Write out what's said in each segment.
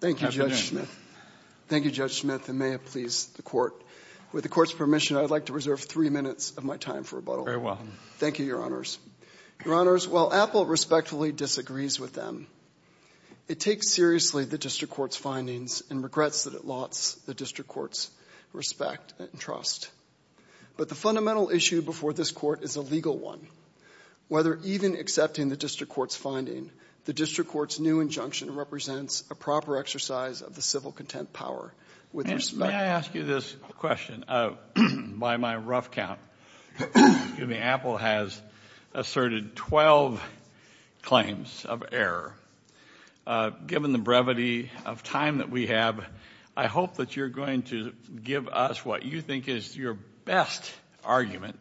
Thank you, Judge Smith. Thank you, Judge Smith, and may it please the Court. With the Court's permission, I'd like to reserve three minutes of my time for rebuttal. Very well. Thank you, Your Honors. Your Honors, while Apple respectfully disagrees with them, it takes seriously the District Court's findings and regrets that it lost the District Court's respect and trust. But the fundamental issue before this Court is a legal one. Whether even accepting the District Court's finding, the District Court's new injunction represents a proper exercise of the civil content power. May I ask you this question? By my rough count, Apple has asserted 12 claims of error. Given the brevity of time that we have, I hope that you're going to give us what you think is your best argument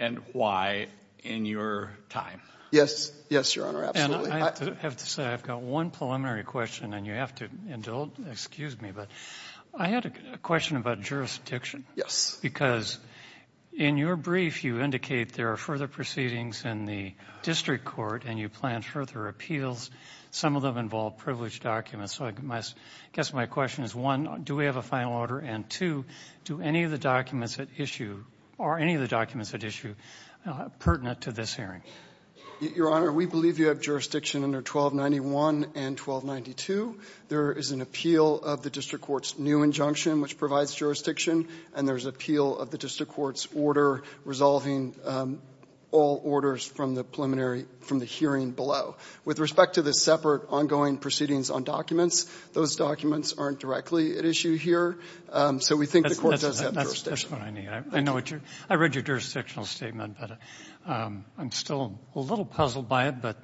and why in your time. Yes. Yes, Your Honor, absolutely. And I have to say, I've got one preliminary question, and you have to indulge. Excuse me, but I had a question about jurisdiction. Yes. Because in your brief, you indicate there are further proceedings in the District Court and you plan further appeals. Some of them involve privileged documents. So I guess my question is, one, do we have a final order? And two, are any of the documents at issue pertinent to this hearing? Your Honor, we believe you have jurisdiction under 1291 and 1292. There is an appeal of the District Court's new injunction, which provides jurisdiction, and there's an appeal of the District Court's order resolving all orders from the hearing below. With respect to the separate ongoing proceedings on documents, those documents aren't directly at issue here. So we think the Court does have jurisdiction. That's what I need. I read your jurisdictional statement, but I'm still a little puzzled by it, but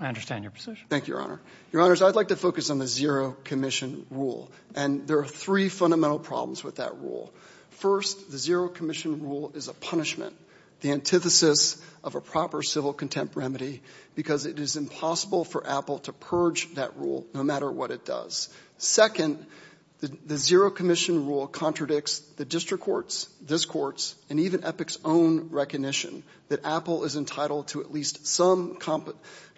I understand your position. Thank you, Your Honor. Your Honors, I'd like to focus on the zero commission rule. And there are three fundamental problems with that rule. First, the zero commission rule is a punishment, the antithesis of a proper civil contempt remedy, because it is impossible for Apple to purge that rule, no matter what it does. Second, the zero commission rule contradicts the District Court's, this Court's, and even EPIC's own recognition that Apple is entitled to at least some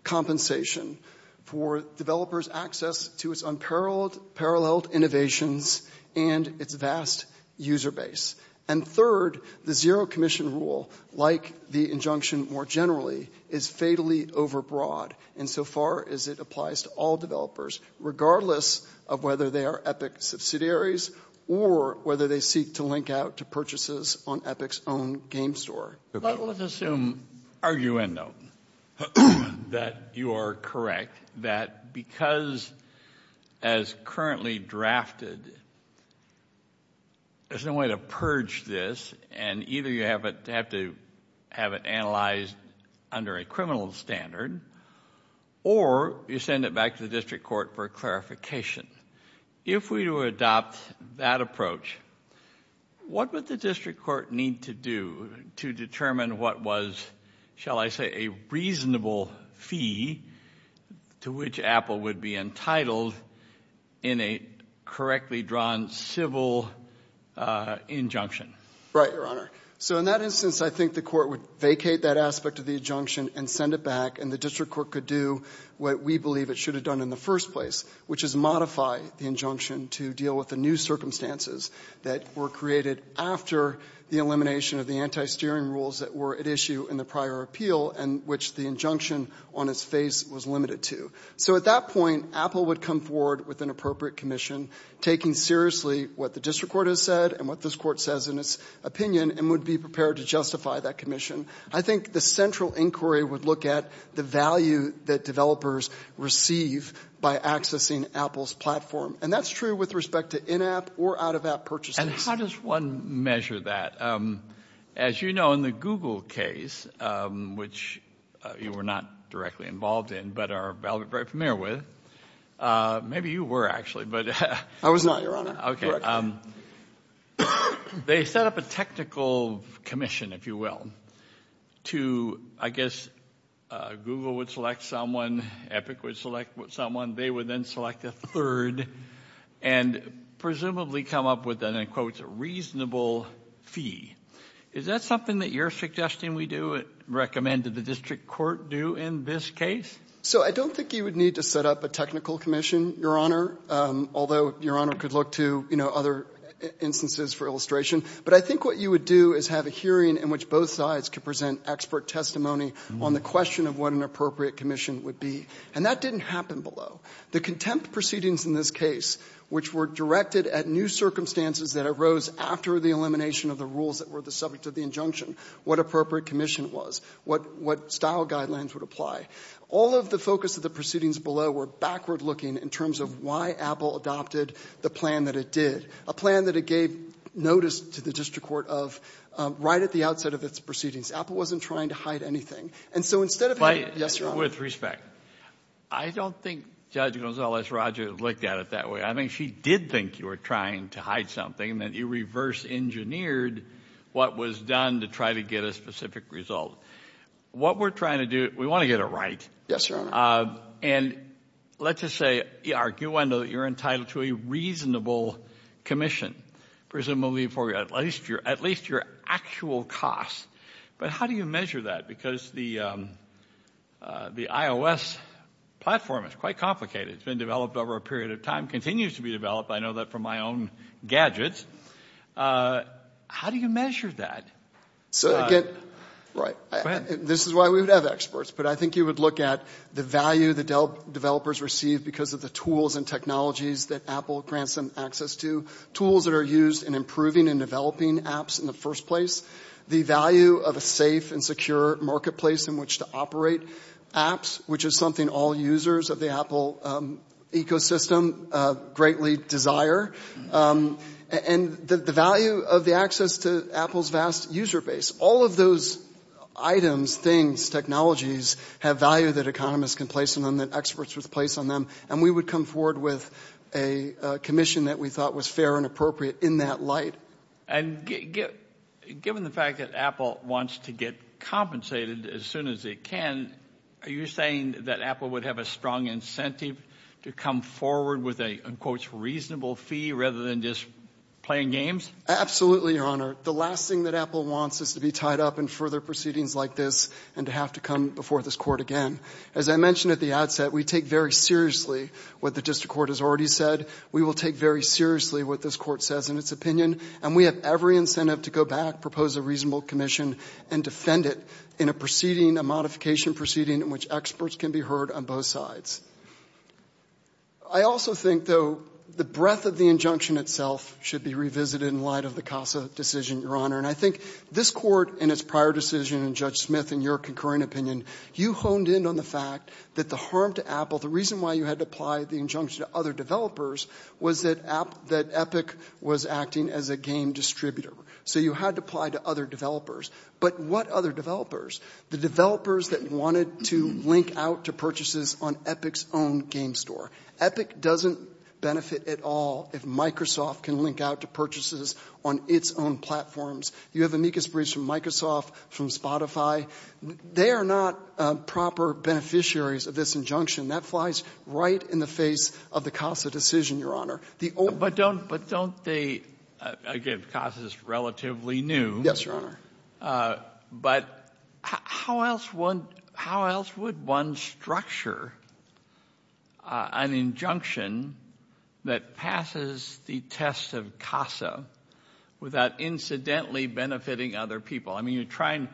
compensation for developers' access to its unparalleled innovations and its vast user base. And third, the zero commission rule, like the injunction more generally, is fatally overbroad insofar as it applies to all developers, regardless of whether they are EPIC subsidiaries or whether they seek to link out to purchases on EPIC's own game store. But let's assume, argue in, though, that you are correct, that because, as currently drafted, there's no way to purge this, and either you have to have it analyzed under a criminal standard, or you send it back to the District Court for clarification. If we were to adopt that approach, what would the District Court need to do to determine what was, shall I fee to which Apple would be entitled in a correctly drawn civil injunction? Right, Your Honor. So in that instance, I think the Court would vacate that aspect of the injunction and send it back, and the District Court could do what we believe it should have done in the first place, which is modify the injunction to deal with the new circumstances that were created after the elimination of the anti-steering rules that were at issue in the prior appeal, and which the injunction on its face was limited to. So at that point, Apple would come forward with an appropriate commission, taking seriously what the District Court has said and what this Court says in its opinion, and would be prepared to justify that commission. I think the central inquiry would look at the value that developers receive by accessing Apple's platform. And that's true with respect to in-app or out-of-app purchases. And how does one measure that? As you know, in the Google case, which you were not directly involved in, but are very familiar with, maybe you were actually, but... I was not, Your Honor. Okay. They set up a technical commission, if you will, to, I guess, Google would select someone, Epic would select someone, they would then select a third, and presumably come up with an, in quotes, a reasonable fee. Is that something that you're suggesting we do, recommend that the District Court do in this case? So I don't think you would need to set up a technical commission, Your Honor, although Your Honor could look to, you know, other instances for illustration. But I think what you would do is have a hearing in which both sides could present expert testimony on the question of what an appropriate commission would be. And that didn't happen below. The contempt proceedings in this case, which were directed at new circumstances that arose after the elimination of the rules that were the subject of the injunction, what appropriate commission was, what style guidelines would apply, all of the focus of the proceedings below were backward-looking in terms of why Apple adopted the plan that it did, a plan that it gave notice to the District Court of right at the outset of its proceedings. Apple wasn't trying to hide anything. And so instead of having... But... Yes, Your Honor. With respect, I don't think Judge Gonzalez-Rogers looked at it that way. I think she did think you were trying to hide something, that you reverse-engineered what was done to try to get a specific result. What we're trying to do, we want to get it right. Yes, Your Honor. And let's just say, you're entitled to a reasonable commission, presumably for at least your actual cost. But how do you measure that? Because the iOS platform is quite complicated. It's been developed over a period of time, continues to be developed. I know that from my own gadgets. How do you measure that? So again... Go ahead. This is why we would have experts. But I think you would look at the value the developers receive because of the tools and technologies that Apple grants them access to, tools that were used in improving and developing apps in the first place. The value of a safe and secure marketplace in which to operate apps, which is something all users of the Apple ecosystem greatly desire. And the value of the access to Apple's vast user base. All of those items, things, technologies, have value that economists can place on them, that experts would place on them. And we would come forward with a commission that we thought was fair and appropriate in that light. And given the fact that Apple wants to get compensated as soon as it can, are you saying that Apple would have a strong incentive to come forward with a, in quotes, reasonable fee rather than just playing games? Absolutely, Your Honor. The last thing that Apple wants is to be tied up in further proceedings like this and to have to come before this Court again. As I mentioned at the outset, we take very seriously what the District Court has already said. We will take very seriously what this Court says in its opinion. And we have every incentive to go back, propose a reasonable commission, and defend it in a proceeding, a modification proceeding in which experts can be heard on both sides. I also think, though, the breadth of the injunction itself should be revisited in light of the CASA decision, Your Honor. And I think this Court in its prior decision and Judge Smith in your concurring opinion, you honed in on the fact that the harm to Apple, the reason why you had to apply the injunction to other developers, was that Epic was acting as a game distributor. So you had to apply it to other developers. But what other developers? The developers that wanted to link out to purchases on Epic's own game store. Epic doesn't benefit at all if Microsoft can link out to purchases on its own platforms. You have amicus briefs from Microsoft, from Spotify. They are not proper beneficiaries of this injunction. That flies right in the face of the CASA decision, Your Honor. The old – But don't – but don't they – again, CASA is relatively new. Yes, Your Honor. But how else would – how else would one structure an injunction that passes the test of CASA without incidentally benefiting other people? I mean, you try and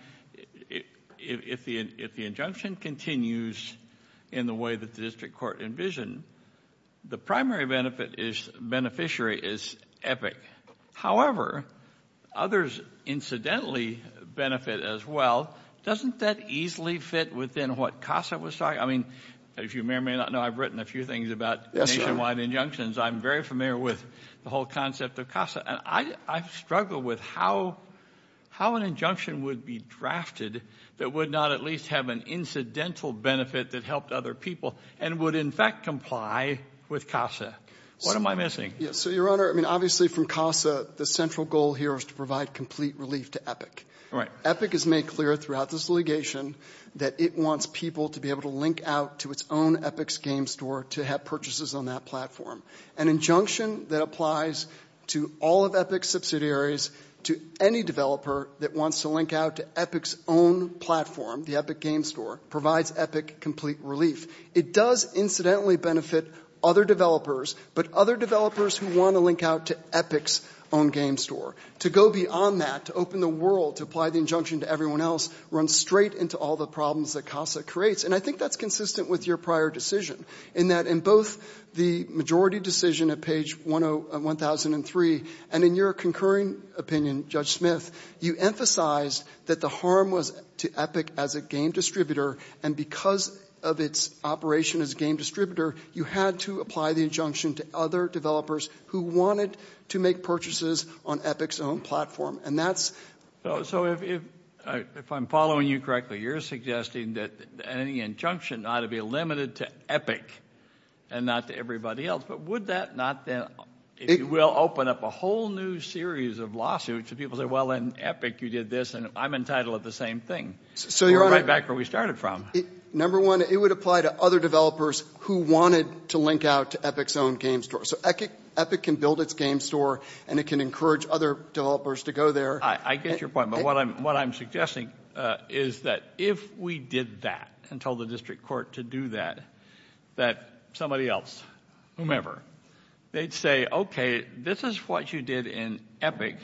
– if the injunction continues in the way that the district court envisioned, the primary benefit is – beneficiary is Epic. However, others incidentally benefit as well. Doesn't that easily fit within what CASA was talking – I mean, as you may or may not know, I've written a few things about – I've written a few things about injunctions. I'm very familiar with the whole concept of CASA. And I struggle with how an injunction would be drafted that would not at least have an incidental benefit that helped other people and would in fact comply with CASA. What am I missing? So, Your Honor, I mean, obviously from CASA, the central goal here is to provide complete relief to Epic. Right. Epic has made clear throughout this litigation that it wants people to be able to link out to its own Epic's game store to have purchases on that platform. An injunction that applies to all of Epic's subsidiaries, to any developer that wants to link out to Epic's own platform, the Epic game store, provides Epic complete relief. It does incidentally benefit other developers, but other developers who want to link out to Epic's own game store. To go beyond that, to open the world, to apply the injunction to everyone else, runs straight into all the problems that CASA creates. And I think that's consistent with your prior decision, in that in both the majority decision at page 1003, and in your concurring opinion, Judge Smith, you emphasized that the harm was to Epic as a game distributor, and because of its operation as a game distributor, you had to apply the injunction to other developers who wanted to make purchases on Epic's own platform. And that's... So if I'm following you correctly, you're suggesting that any injunction ought to be limited to Epic, and not to everybody else. But would that not then, if you will, open up a whole new series of lawsuits, and people say, well, in Epic you did this, and I'm entitled to the same thing. We're right back where we started from. Number one, it would apply to other developers who wanted to link out to Epic's own game store. So Epic can build its game store, and it can encourage other developers to go there. I get your point. But what I'm suggesting is that if we did that, and told the district court to do that, that somebody else, whomever, they'd say, okay, this is what you did in Epic.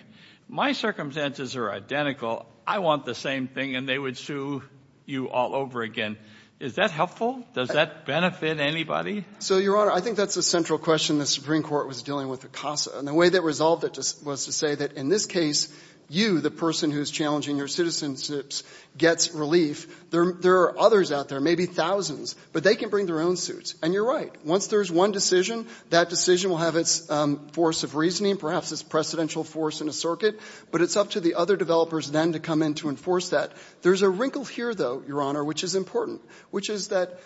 My circumstances are identical. I want the same thing. And they would sue you all over again. Is that helpful? Does that benefit anybody? So Your Honor, I think that's a central question the Supreme Court was dealing with the CASA. And the way they resolved it was to say that in this case, you, the person who's challenging your citizenship, gets relief. There are others out there, maybe thousands, but they can bring their own suits. And you're right. Once there's one decision, that decision will have its force of reasoning, perhaps its precedential force in a circuit. But it's up to the other developers then to come in to enforce that. There's a wrinkle here, though, Your Honor, which is important, which is that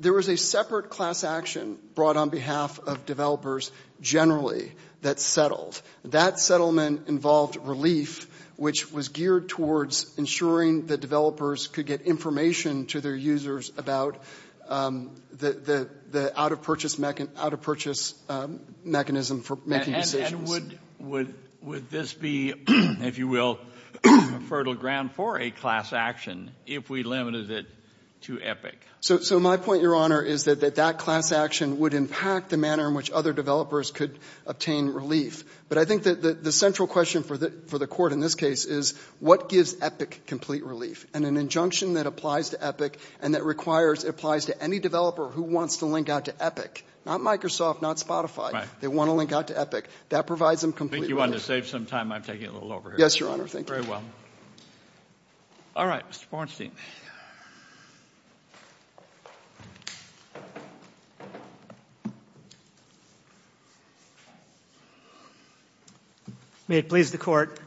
there was a separate class action brought on behalf of developers generally that settled. That settlement involved relief, which was geared towards ensuring that developers could get information to their users about the out-of-purchase mechanism for making decisions. Would this be, if you will, a fertile ground for a class action if we limited it to Epic? So my point, Your Honor, is that that class action would impact the manner in which other developers could obtain relief. But I think that the central question for the Court in this case is, what gives Epic complete relief? And an injunction that applies to Epic and that requires, it applies to any developer who wants to link out to Epic. Not Microsoft, not Spotify. They want to link out to Epic. That provides them complete relief. I think you wanted to save some time. I'm taking a little over here. Yes, Your Honor. Thank you. Very well. All right. Mr. Bornstein. May it please the Court,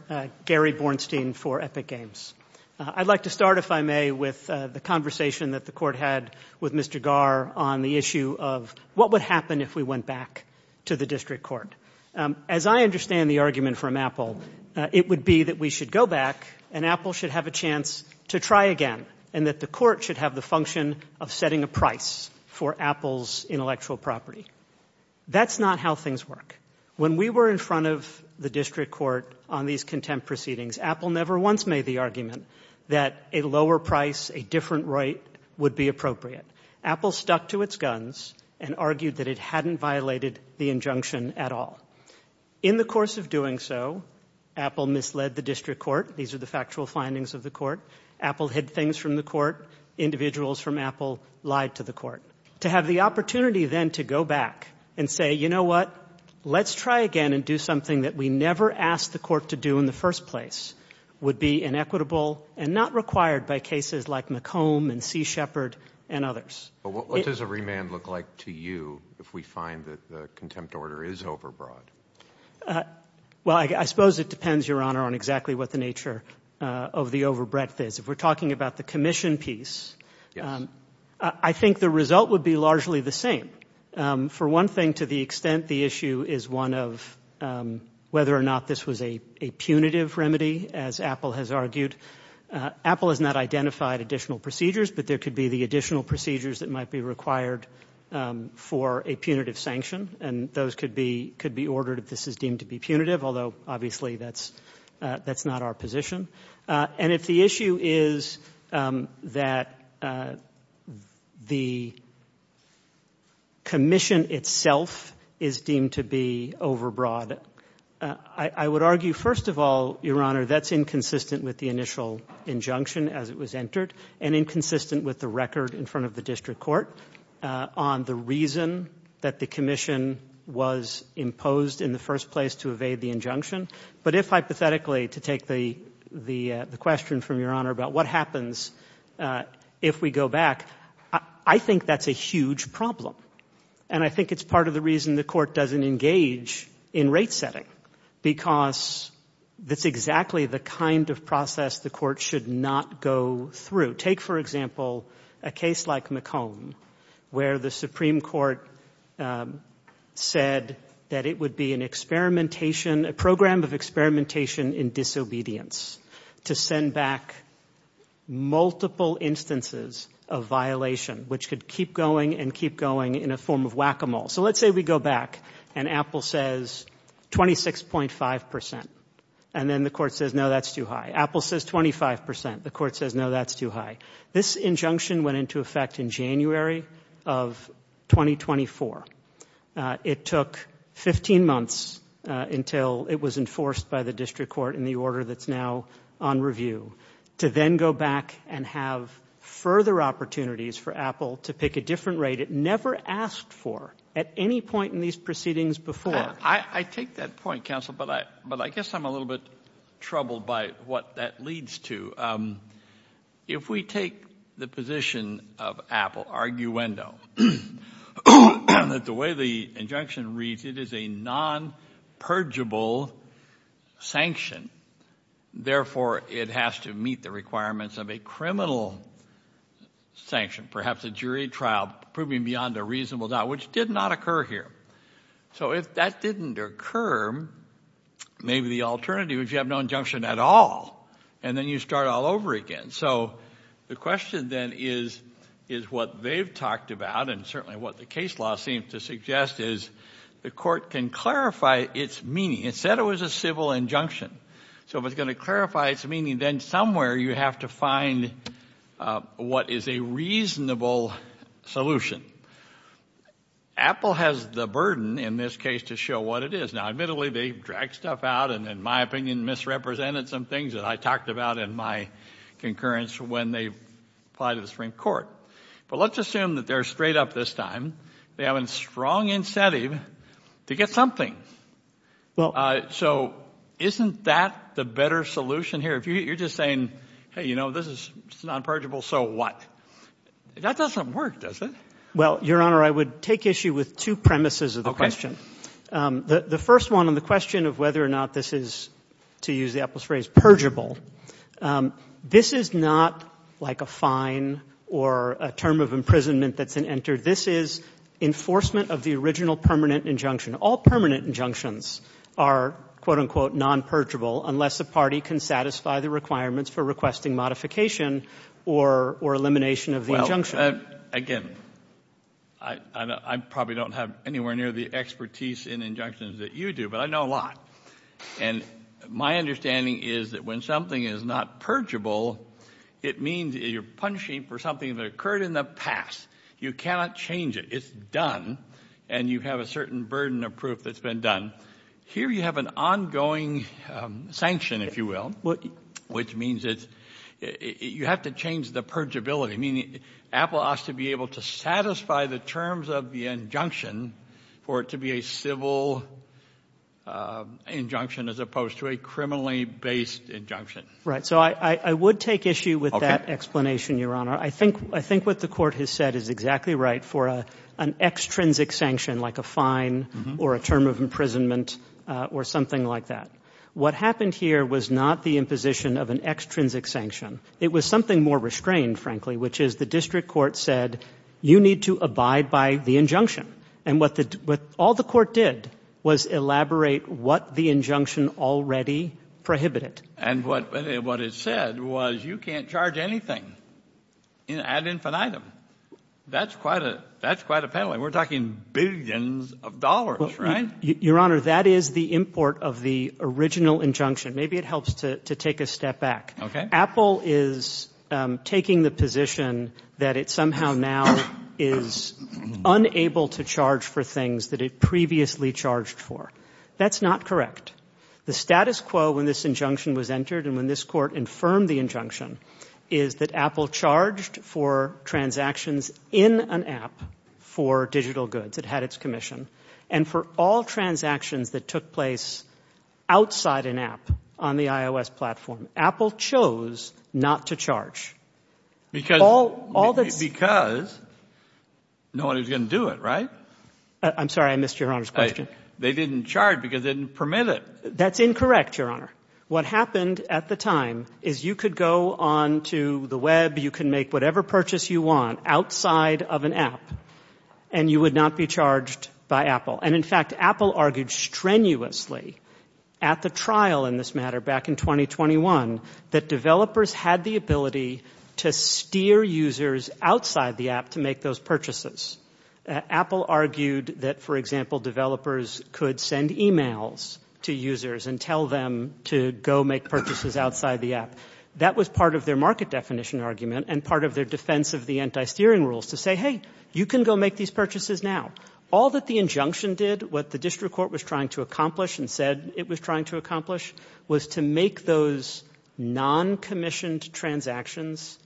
Gary Bornstein for Epic Games. I'd like to start, if I may, with the conversation that the Court had with Mr. Garr on the issue of what would happen if we went back to the district court. As I understand the argument from Apple, it would be that we should go back and Apple should have a chance to try again and that the Court should have the function of setting a price for Apple's intellectual property. That's not how things work. When we were in front of the district court on these contempt proceedings, Apple never once made the argument that a lower price, a different right would be appropriate. Apple stuck to its guns and argued that it hadn't violated the injunction at all. In the course of doing so, Apple misled the district court. These are the factual findings of the court. Apple hid things from the court. Individuals from Apple lied to the court. To have the opportunity then to go back and say, you know what, let's try again and do something that we never asked the court to do in the first place would be inequitable and not required by cases like McComb and C. Shepard and others. But what does a remand look like to you if we find that the contempt order is overbroad? Well, I suppose it depends, Your Honor, on exactly what the nature of the overbreadth is. If we're talking about the commission piece, I think the result would be largely the same. For one thing, to the extent the issue is one of whether or not this was a punitive remedy, as Apple has argued, Apple has not identified additional procedures, but there could be the additional procedures that might be required for a punitive sanction. And those could be ordered if this is deemed to be punitive, although obviously that's not our position. And if the issue is that the commission itself is deemed to be overbroad, I would argue, first of all, Your Honor, that's inconsistent with the initial injunction as it was entered and inconsistent with the record in front of the district court on the reason that the commission was imposed in the first place to evade the injunction. But if, hypothetically, to take the question from Your Honor about what happens if we go back, I think that's a huge problem. And I think it's part of the reason the court doesn't engage in rate setting, because that's exactly the kind of process the court should not go through. Take, for example, a case like McComb, where the Supreme Court said that it would be an experimentation, a program of experimentation in disobedience to send back multiple instances of violation, which could keep going and keep going in a form of whack-a-mole. So let's say we go back and Apple says 26.5 percent, and then the court says, no, that's too high. This injunction went into effect in January of 2024. It took 15 months until it was enforced by the district court in the order that's now on review to then go back and have further opportunities for Apple to pick a different rate it never asked for at any point in these proceedings before. I take that point, counsel, but I guess I'm a little bit troubled by what that leads to. If we take the position of Apple, arguendo, that the way the injunction reads, it is a non-purgeable sanction. Therefore, it has to meet the requirements of a criminal sanction, perhaps a jury trial proving beyond a reasonable doubt, which did not occur here. So if that didn't occur, maybe the alternative is you have no injunction at all, and then you start all over again. So the question then is what they've talked about, and certainly what the case law seems to suggest, is the court can clarify its meaning. It said it was a civil injunction. So if it's going to clarify its meaning, then somewhere you have to find what is a reasonable solution. Apple has the burden in this case to show what it is. Now, admittedly, they dragged stuff out and, in my opinion, misrepresented some things that I talked about in my concurrence when they applied to the Supreme Court. But let's assume that they're straight up this time. They have a strong incentive to get something. So isn't that the better solution here? If you're just saying, hey, you know, this is non-purgeable, so what? That doesn't work, does it? Well, Your Honor, I would take issue with two premises of the question. The first one on the question of whether or not this is, to use Apple's phrase, purgeable, this is not like a fine or a term of imprisonment that's been entered. This is enforcement of the original permanent injunction. All permanent injunctions are, quote, unquote, non-purgeable unless the party can satisfy the requirements for requesting modification or elimination of the injunction. Again, I probably don't have anywhere near the expertise in injunctions that you do, but I know a lot. And my understanding is that when something is not purgeable, it means you're punishing for something that occurred in the past. You cannot change it. It's done, and you have a certain burden of proof that's been done. Here you have an ongoing sanction, if you will, which means you have to change the purgeability, meaning Apple has to be able to satisfy the terms of the injunction for it to be a civil injunction as opposed to a criminally-based injunction. Right. So I would take issue with that explanation, Your Honor. Okay. I think what the Court has said is exactly right for an extrinsic sanction, like a fine or a term of imprisonment or something like that. What happened here was not the imposition of an extrinsic sanction. It was something more restrained, frankly, which is the district court said, you need to abide by the injunction. And what all the court did was elaborate what the injunction already prohibited. And what it said was you can't charge anything ad infinitum. That's quite a penalty. We're talking billions of dollars, right? Your Honor, that is the import of the original injunction. Maybe it helps to take a step back. Apple is taking the position that it somehow now is unable to charge for things that it previously charged for. That's not correct. The status quo when this injunction was entered and when this court infirmed the injunction is that Apple charged for transactions in an app for digital goods. It had its commission. And for all transactions that took place outside an app on the iOS platform, Apple chose not to charge. Because no one was going to do it, right? I'm sorry, I missed Your Honor's question. They didn't charge because they didn't permit it. That's incorrect, Your Honor. What happened at the time is you could go onto the web, you can make whatever purchase you want outside of an app, and you would not be charged by Apple. And, in fact, Apple argued strenuously at the trial in this matter back in 2021 that developers had the ability to steer users outside the app to make those purchases. Apple argued that, for example, developers could send emails to users and tell them to go make purchases outside the app. That was part of their market definition argument and part of their defense of the anti-steering rules to say, hey, you can go make these purchases now. All that the injunction did, what the district court was trying to accomplish and said it was trying to accomplish, was to make those non-commissioned transactions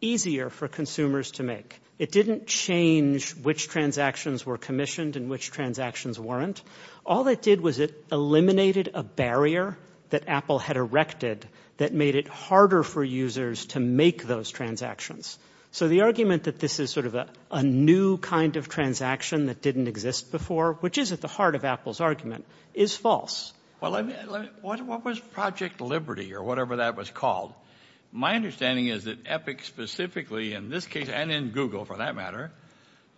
easier for consumers to make. It didn't change which transactions were commissioned and which transactions weren't. All it did was it eliminated a barrier that Apple had erected that made it harder for users to make those transactions. So the argument that this is sort of a new kind of transaction that didn't exist before, which is at the heart of Apple's argument, is false. Well, what was Project Liberty or whatever that was called? My understanding is that Epic specifically, in this case and in Google for that matter,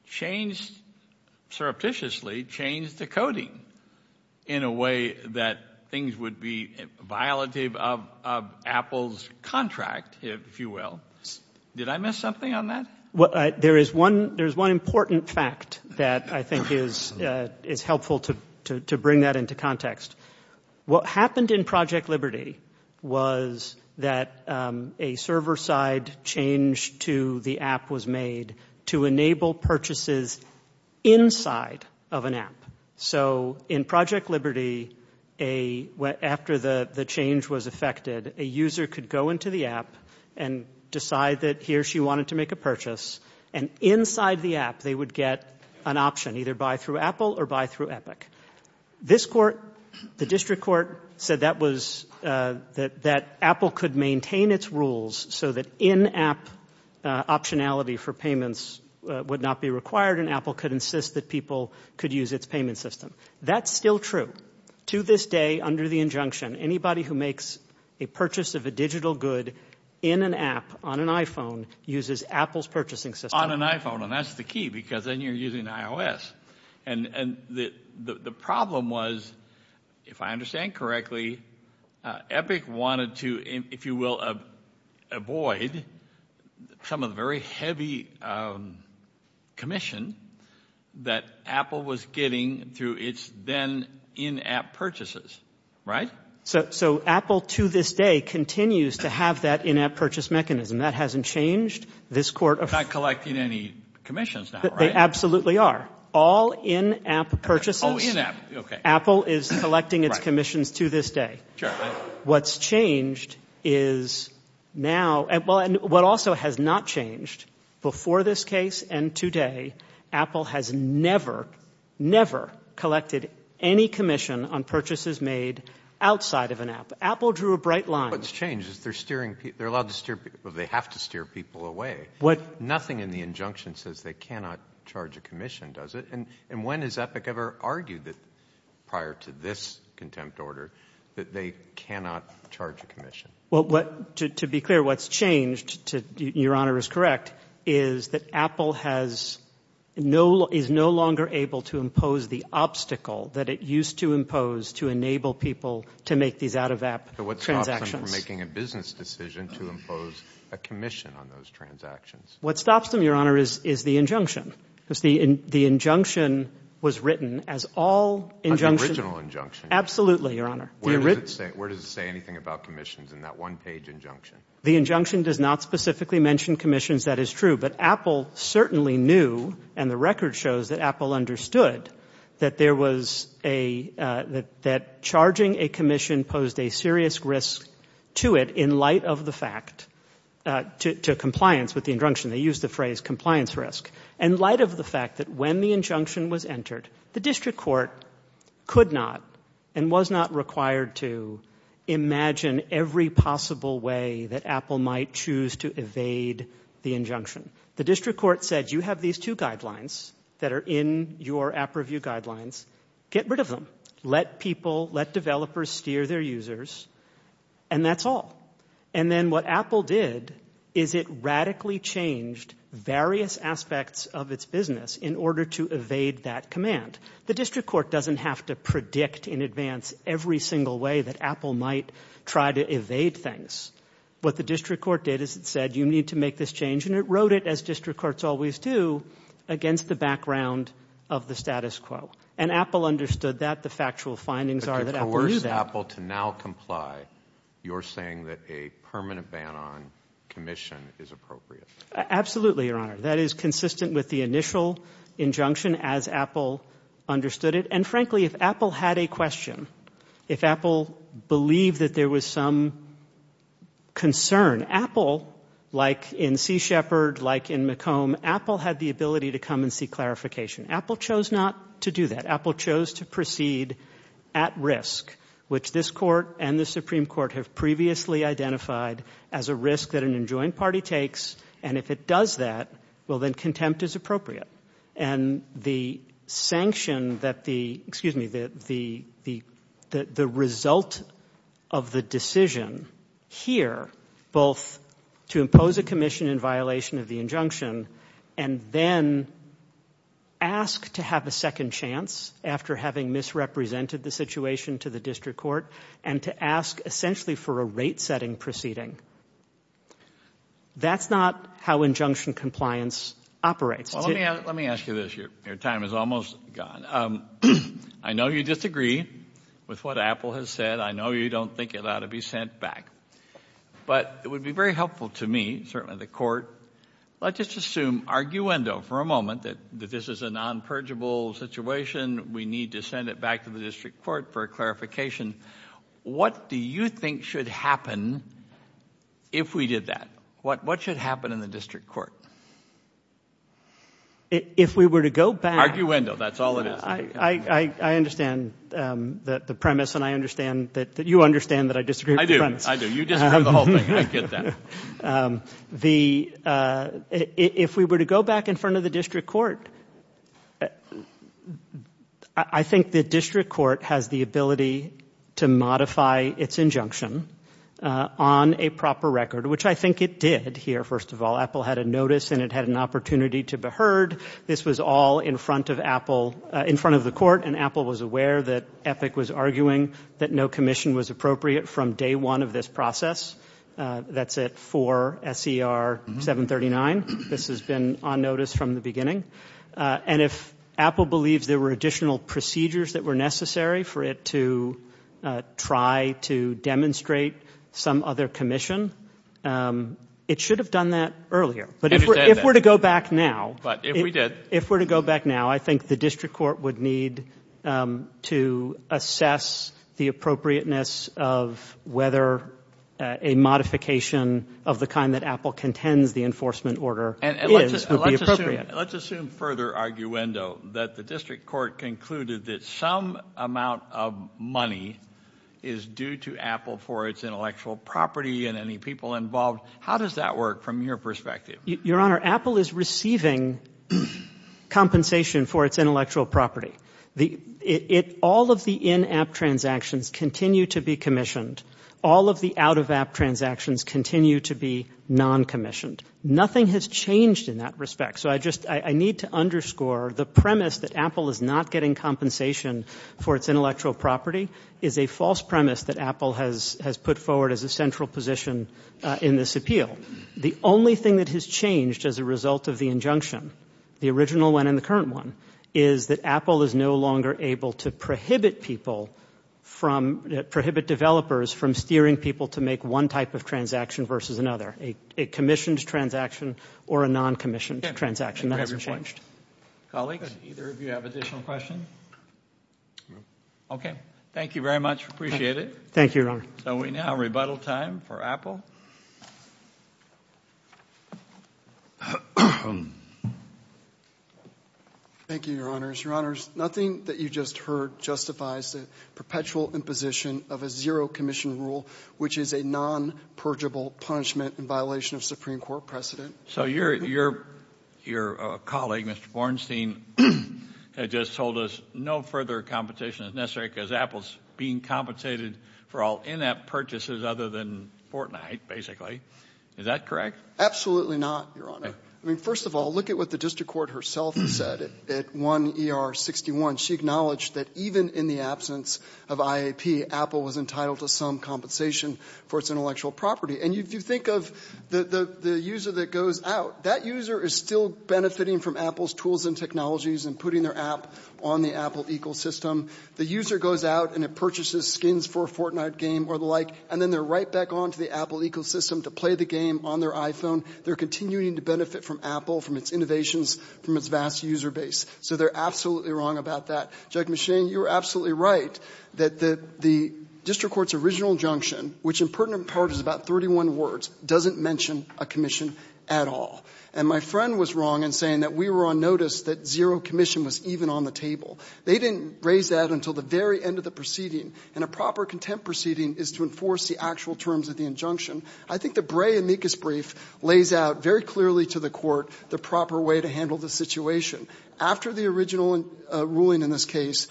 changed, surreptitiously changed the coding in a way that things would be violative of Apple's contract, if you will. Did I miss something on that? There is one important fact that I think is helpful to bring that into context. What happened in Project Liberty was that a server-side change to the app was made to enable purchases inside of an app. So in Project Liberty, after the change was effected, a user could go into the app and decide that he or she wanted to make a purchase, and inside the app they would get an option, either buy through Apple or buy through Epic. This court, the district court, said that Apple could maintain its rules so that in-app optionality for payments would not be required and Apple could insist that people could use its payment system. That's still true. To this day, under the injunction, anybody who makes a purchase of a digital good in an app on an iPhone uses Apple's purchasing system. On an iPhone, and that's the key because then you're using iOS. And the problem was, if I understand correctly, Epic wanted to, if you will, avoid some of the very heavy commission that Apple was getting through its then in-app purchases, right? So Apple to this day continues to have that in-app purchase mechanism. That hasn't changed. They're not collecting any commissions now, right? They absolutely are. All in-app purchases. Oh, in-app, okay. Apple is collecting its commissions to this day. Sure. What's changed is now, and what also has not changed, before this case and today, Apple has never, never collected any commission on purchases made outside of an app. Apple drew a bright line. What's changed is they're allowed to steer, well, they have to steer people away. Nothing in the injunction says they cannot charge a commission, does it? And when has Epic ever argued that prior to this contempt order that they cannot charge a commission? Well, to be clear, what's changed, Your Honor is correct, is that Apple is no longer able to impose the obstacle that it used to impose to enable people to make these out-of-app transactions. But what stops them from making a business decision to impose a commission on those transactions? What stops them, Your Honor, is the injunction. The injunction was written as all injunctions. An original injunction. Absolutely, Your Honor. Where does it say anything about commissions in that one-page injunction? The injunction does not specifically mention commissions. That is true. But Apple certainly knew, and the record shows that Apple understood, that charging a commission posed a serious risk to it in light of the fact, to compliance with the injunction. They used the phrase compliance risk. In light of the fact that when the injunction was entered, the district court could not and was not required to imagine every possible way that Apple might choose to evade the injunction. The district court said you have these two guidelines that are in your app review guidelines. Get rid of them. Let people, let developers steer their users, and that's all. And then what Apple did is it radically changed various aspects of its business in order to evade that command. The district court doesn't have to predict in advance every single way that Apple might try to evade things. What the district court did is it said you need to make this change, and it wrote it, as district courts always do, against the background of the status quo. And Apple understood that. The factual findings are that Apple knew that. To coerce Apple to now comply, you're saying that a permanent ban on commission is appropriate. Absolutely, Your Honor. That is consistent with the initial injunction as Apple understood it. And frankly, if Apple had a question, if Apple believed that there was some concern, Apple, like in Sea Shepherd, like in McComb, Apple had the ability to come and see clarification. Apple chose not to do that. Apple chose to proceed at risk, which this court and the Supreme Court have previously identified as a risk that an enjoined party takes. And if it does that, well, then contempt is appropriate. And the sanction that the result of the decision here, both to impose a commission in violation of the injunction and then ask to have a second chance after having misrepresented the situation to the district court and to ask essentially for a rate-setting proceeding, that's not how injunction compliance operates. Well, let me ask you this. Your time is almost gone. I know you disagree with what Apple has said. I know you don't think it ought to be sent back. But it would be very helpful to me, certainly the court, let's just assume arguendo for a moment that this is a non-purgeable situation. We need to send it back to the district court for clarification. What do you think should happen if we did that? What should happen in the district court? If we were to go back... Arguendo, that's all it is. I understand the premise and I understand that you understand that I disagree with the premise. I do. You disagree with the whole thing. I get that. If we were to go back in front of the district court, I think the district court has the ability to modify its injunction on a proper record, which I think it did here, first of all. Apple had a notice and it had an opportunity to be heard. This was all in front of Apple, in front of the court, and Apple was aware that Epic was arguing that no commission was appropriate from day one of this process. That's it for SER 739. This has been on notice from the beginning. And if Apple believes there were additional procedures that were necessary for it to try to demonstrate some other commission, it should have done that earlier. But if we're to go back now... But if we did... If we're to go back now, I think the district court would need to assess the appropriateness of whether a modification of the kind that Apple contends the enforcement order is would be appropriate. Let's assume further arguendo that the district court concluded that some amount of money is due to Apple for its intellectual property and any people involved. How does that work from your perspective? Your Honor, Apple is receiving compensation for its intellectual property. All of the in-app transactions continue to be commissioned. All of the out-of-app transactions continue to be non-commissioned. Nothing has changed in that respect. So I just need to underscore the premise that Apple is not getting compensation for its intellectual property is a false premise that Apple has put forward as a central position in this appeal. The only thing that has changed as a result of the injunction, the original one and the current one, is that Apple is no longer able to prohibit people from... prohibit developers from steering people to make one type of transaction versus another. A commissioned transaction or a non-commissioned transaction, that hasn't changed. Colleagues, either of you have additional questions? Okay. Thank you very much. Appreciate it. Thank you, Your Honor. So we now have rebuttal time for Apple. Thank you, Your Honors. Your Honors, nothing that you just heard justifies the perpetual imposition of a zero-commission rule, which is a non-purgeable punishment in violation of Supreme Court precedent. So your colleague, Mr. Bornstein, just told us no further compensation is necessary because Apple is being compensated for all in-app purchases other than Fortnite, basically. Is that correct? Absolutely not, Your Honor. I mean, first of all, look at what the district court herself said at 1 ER 61. She acknowledged that even in the absence of IAP, Apple was entitled to some compensation for its intellectual property. And if you think of the user that goes out, that user is still benefiting from Apple's tools and technologies and putting their app on the Apple ecosystem. The user goes out and purchases skins for a Fortnite game or the like, and then they're right back onto the Apple ecosystem to play the game on their iPhone. They're continuing to benefit from Apple, from its innovations, from its vast user base. So they're absolutely wrong about that. Judge McShane, you're absolutely right that the district court's original injunction, which in pertinent part is about 31 words, doesn't mention a commission at all. And my friend was wrong in saying that we were on notice that zero commission was even on the table. They didn't raise that until the very end of the proceeding, and a proper contempt proceeding is to enforce the actual terms of the injunction. I think the Bray-Amicus brief lays out very clearly to the court the proper way to handle the situation. After the original ruling in this case,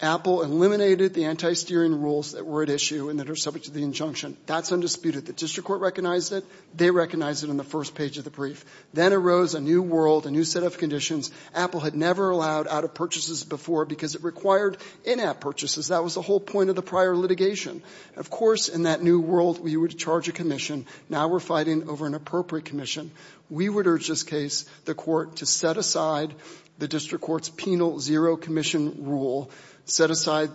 Apple eliminated the anti-steering rules that were at issue and that are subject to the injunction. That's undisputed. The district court recognized it. They recognized it in the first page of the brief. Then arose a new world, a new set of conditions. Apple had never allowed out-of-purchases before because it required in-app purchases. That was the whole point of the prior litigation. Of course, in that new world, we would charge a commission. Now we're fighting over an appropriate commission. We would urge this case, the court, to set aside the district court's penal zero commission rule, set aside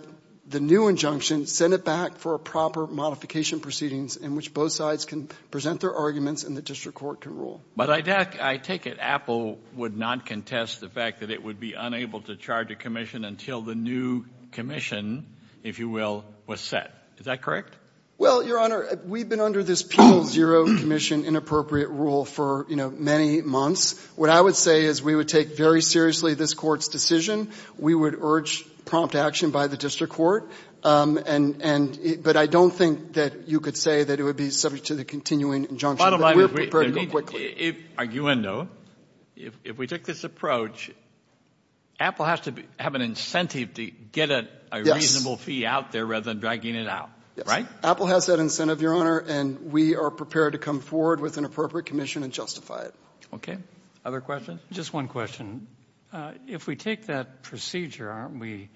the new injunction, send it back for a proper modification proceedings in which both sides can present their arguments and the district court can rule. But I take it Apple would not contest the fact that it would be unable to charge a commission until the new commission, if you will, was set. Is that correct? Well, Your Honor, we've been under this penal zero commission inappropriate rule for many months. What I would say is we would take very seriously this court's decision. We would urge prompt action by the district court. But I don't think that you could say that it would be subject to the continuing injunction. Bottom line, if we take this approach, Apple has to have an incentive to get a reasonable fee out there rather than dragging it out, right? Yes. Apple has that incentive, Your Honor, and we are prepared to come forward with an appropriate commission and justify it. Okay. Other questions? Just one question. If we take that procedure, aren't we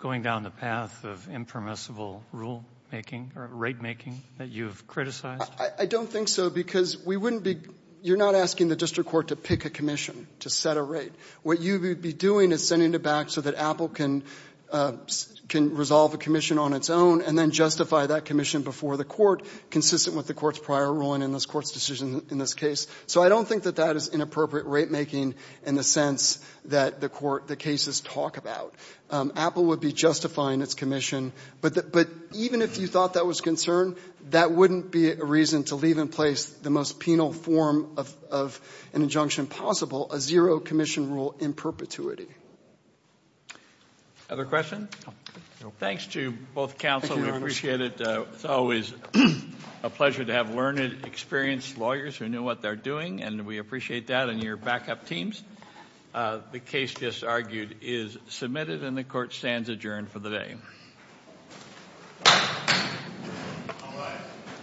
going down the path of impermissible rulemaking or ratemaking that you've criticized? I don't think so because we wouldn't be – you're not asking the district court to pick a commission to set a rate. What you would be doing is sending it back so that Apple can resolve a commission on its own and then justify that commission before the court, consistent with the court's prior ruling in this court's decision in this case. So I don't think that that is inappropriate ratemaking in the sense that the court – the cases talk about. Apple would be justifying its commission. But even if you thought that was concerned, that wouldn't be a reason to leave in place the most penal form of an injunction possible, a zero commission rule in perpetuity. Other questions? No. Thanks to both counsel. Thank you, Your Honor. We appreciate it. It's always a pleasure to have learned, experienced lawyers who know what they're doing, and we appreciate that, and your backup teams. The case just argued is submitted and the court stands adjourned for the day. Thank you. All rise.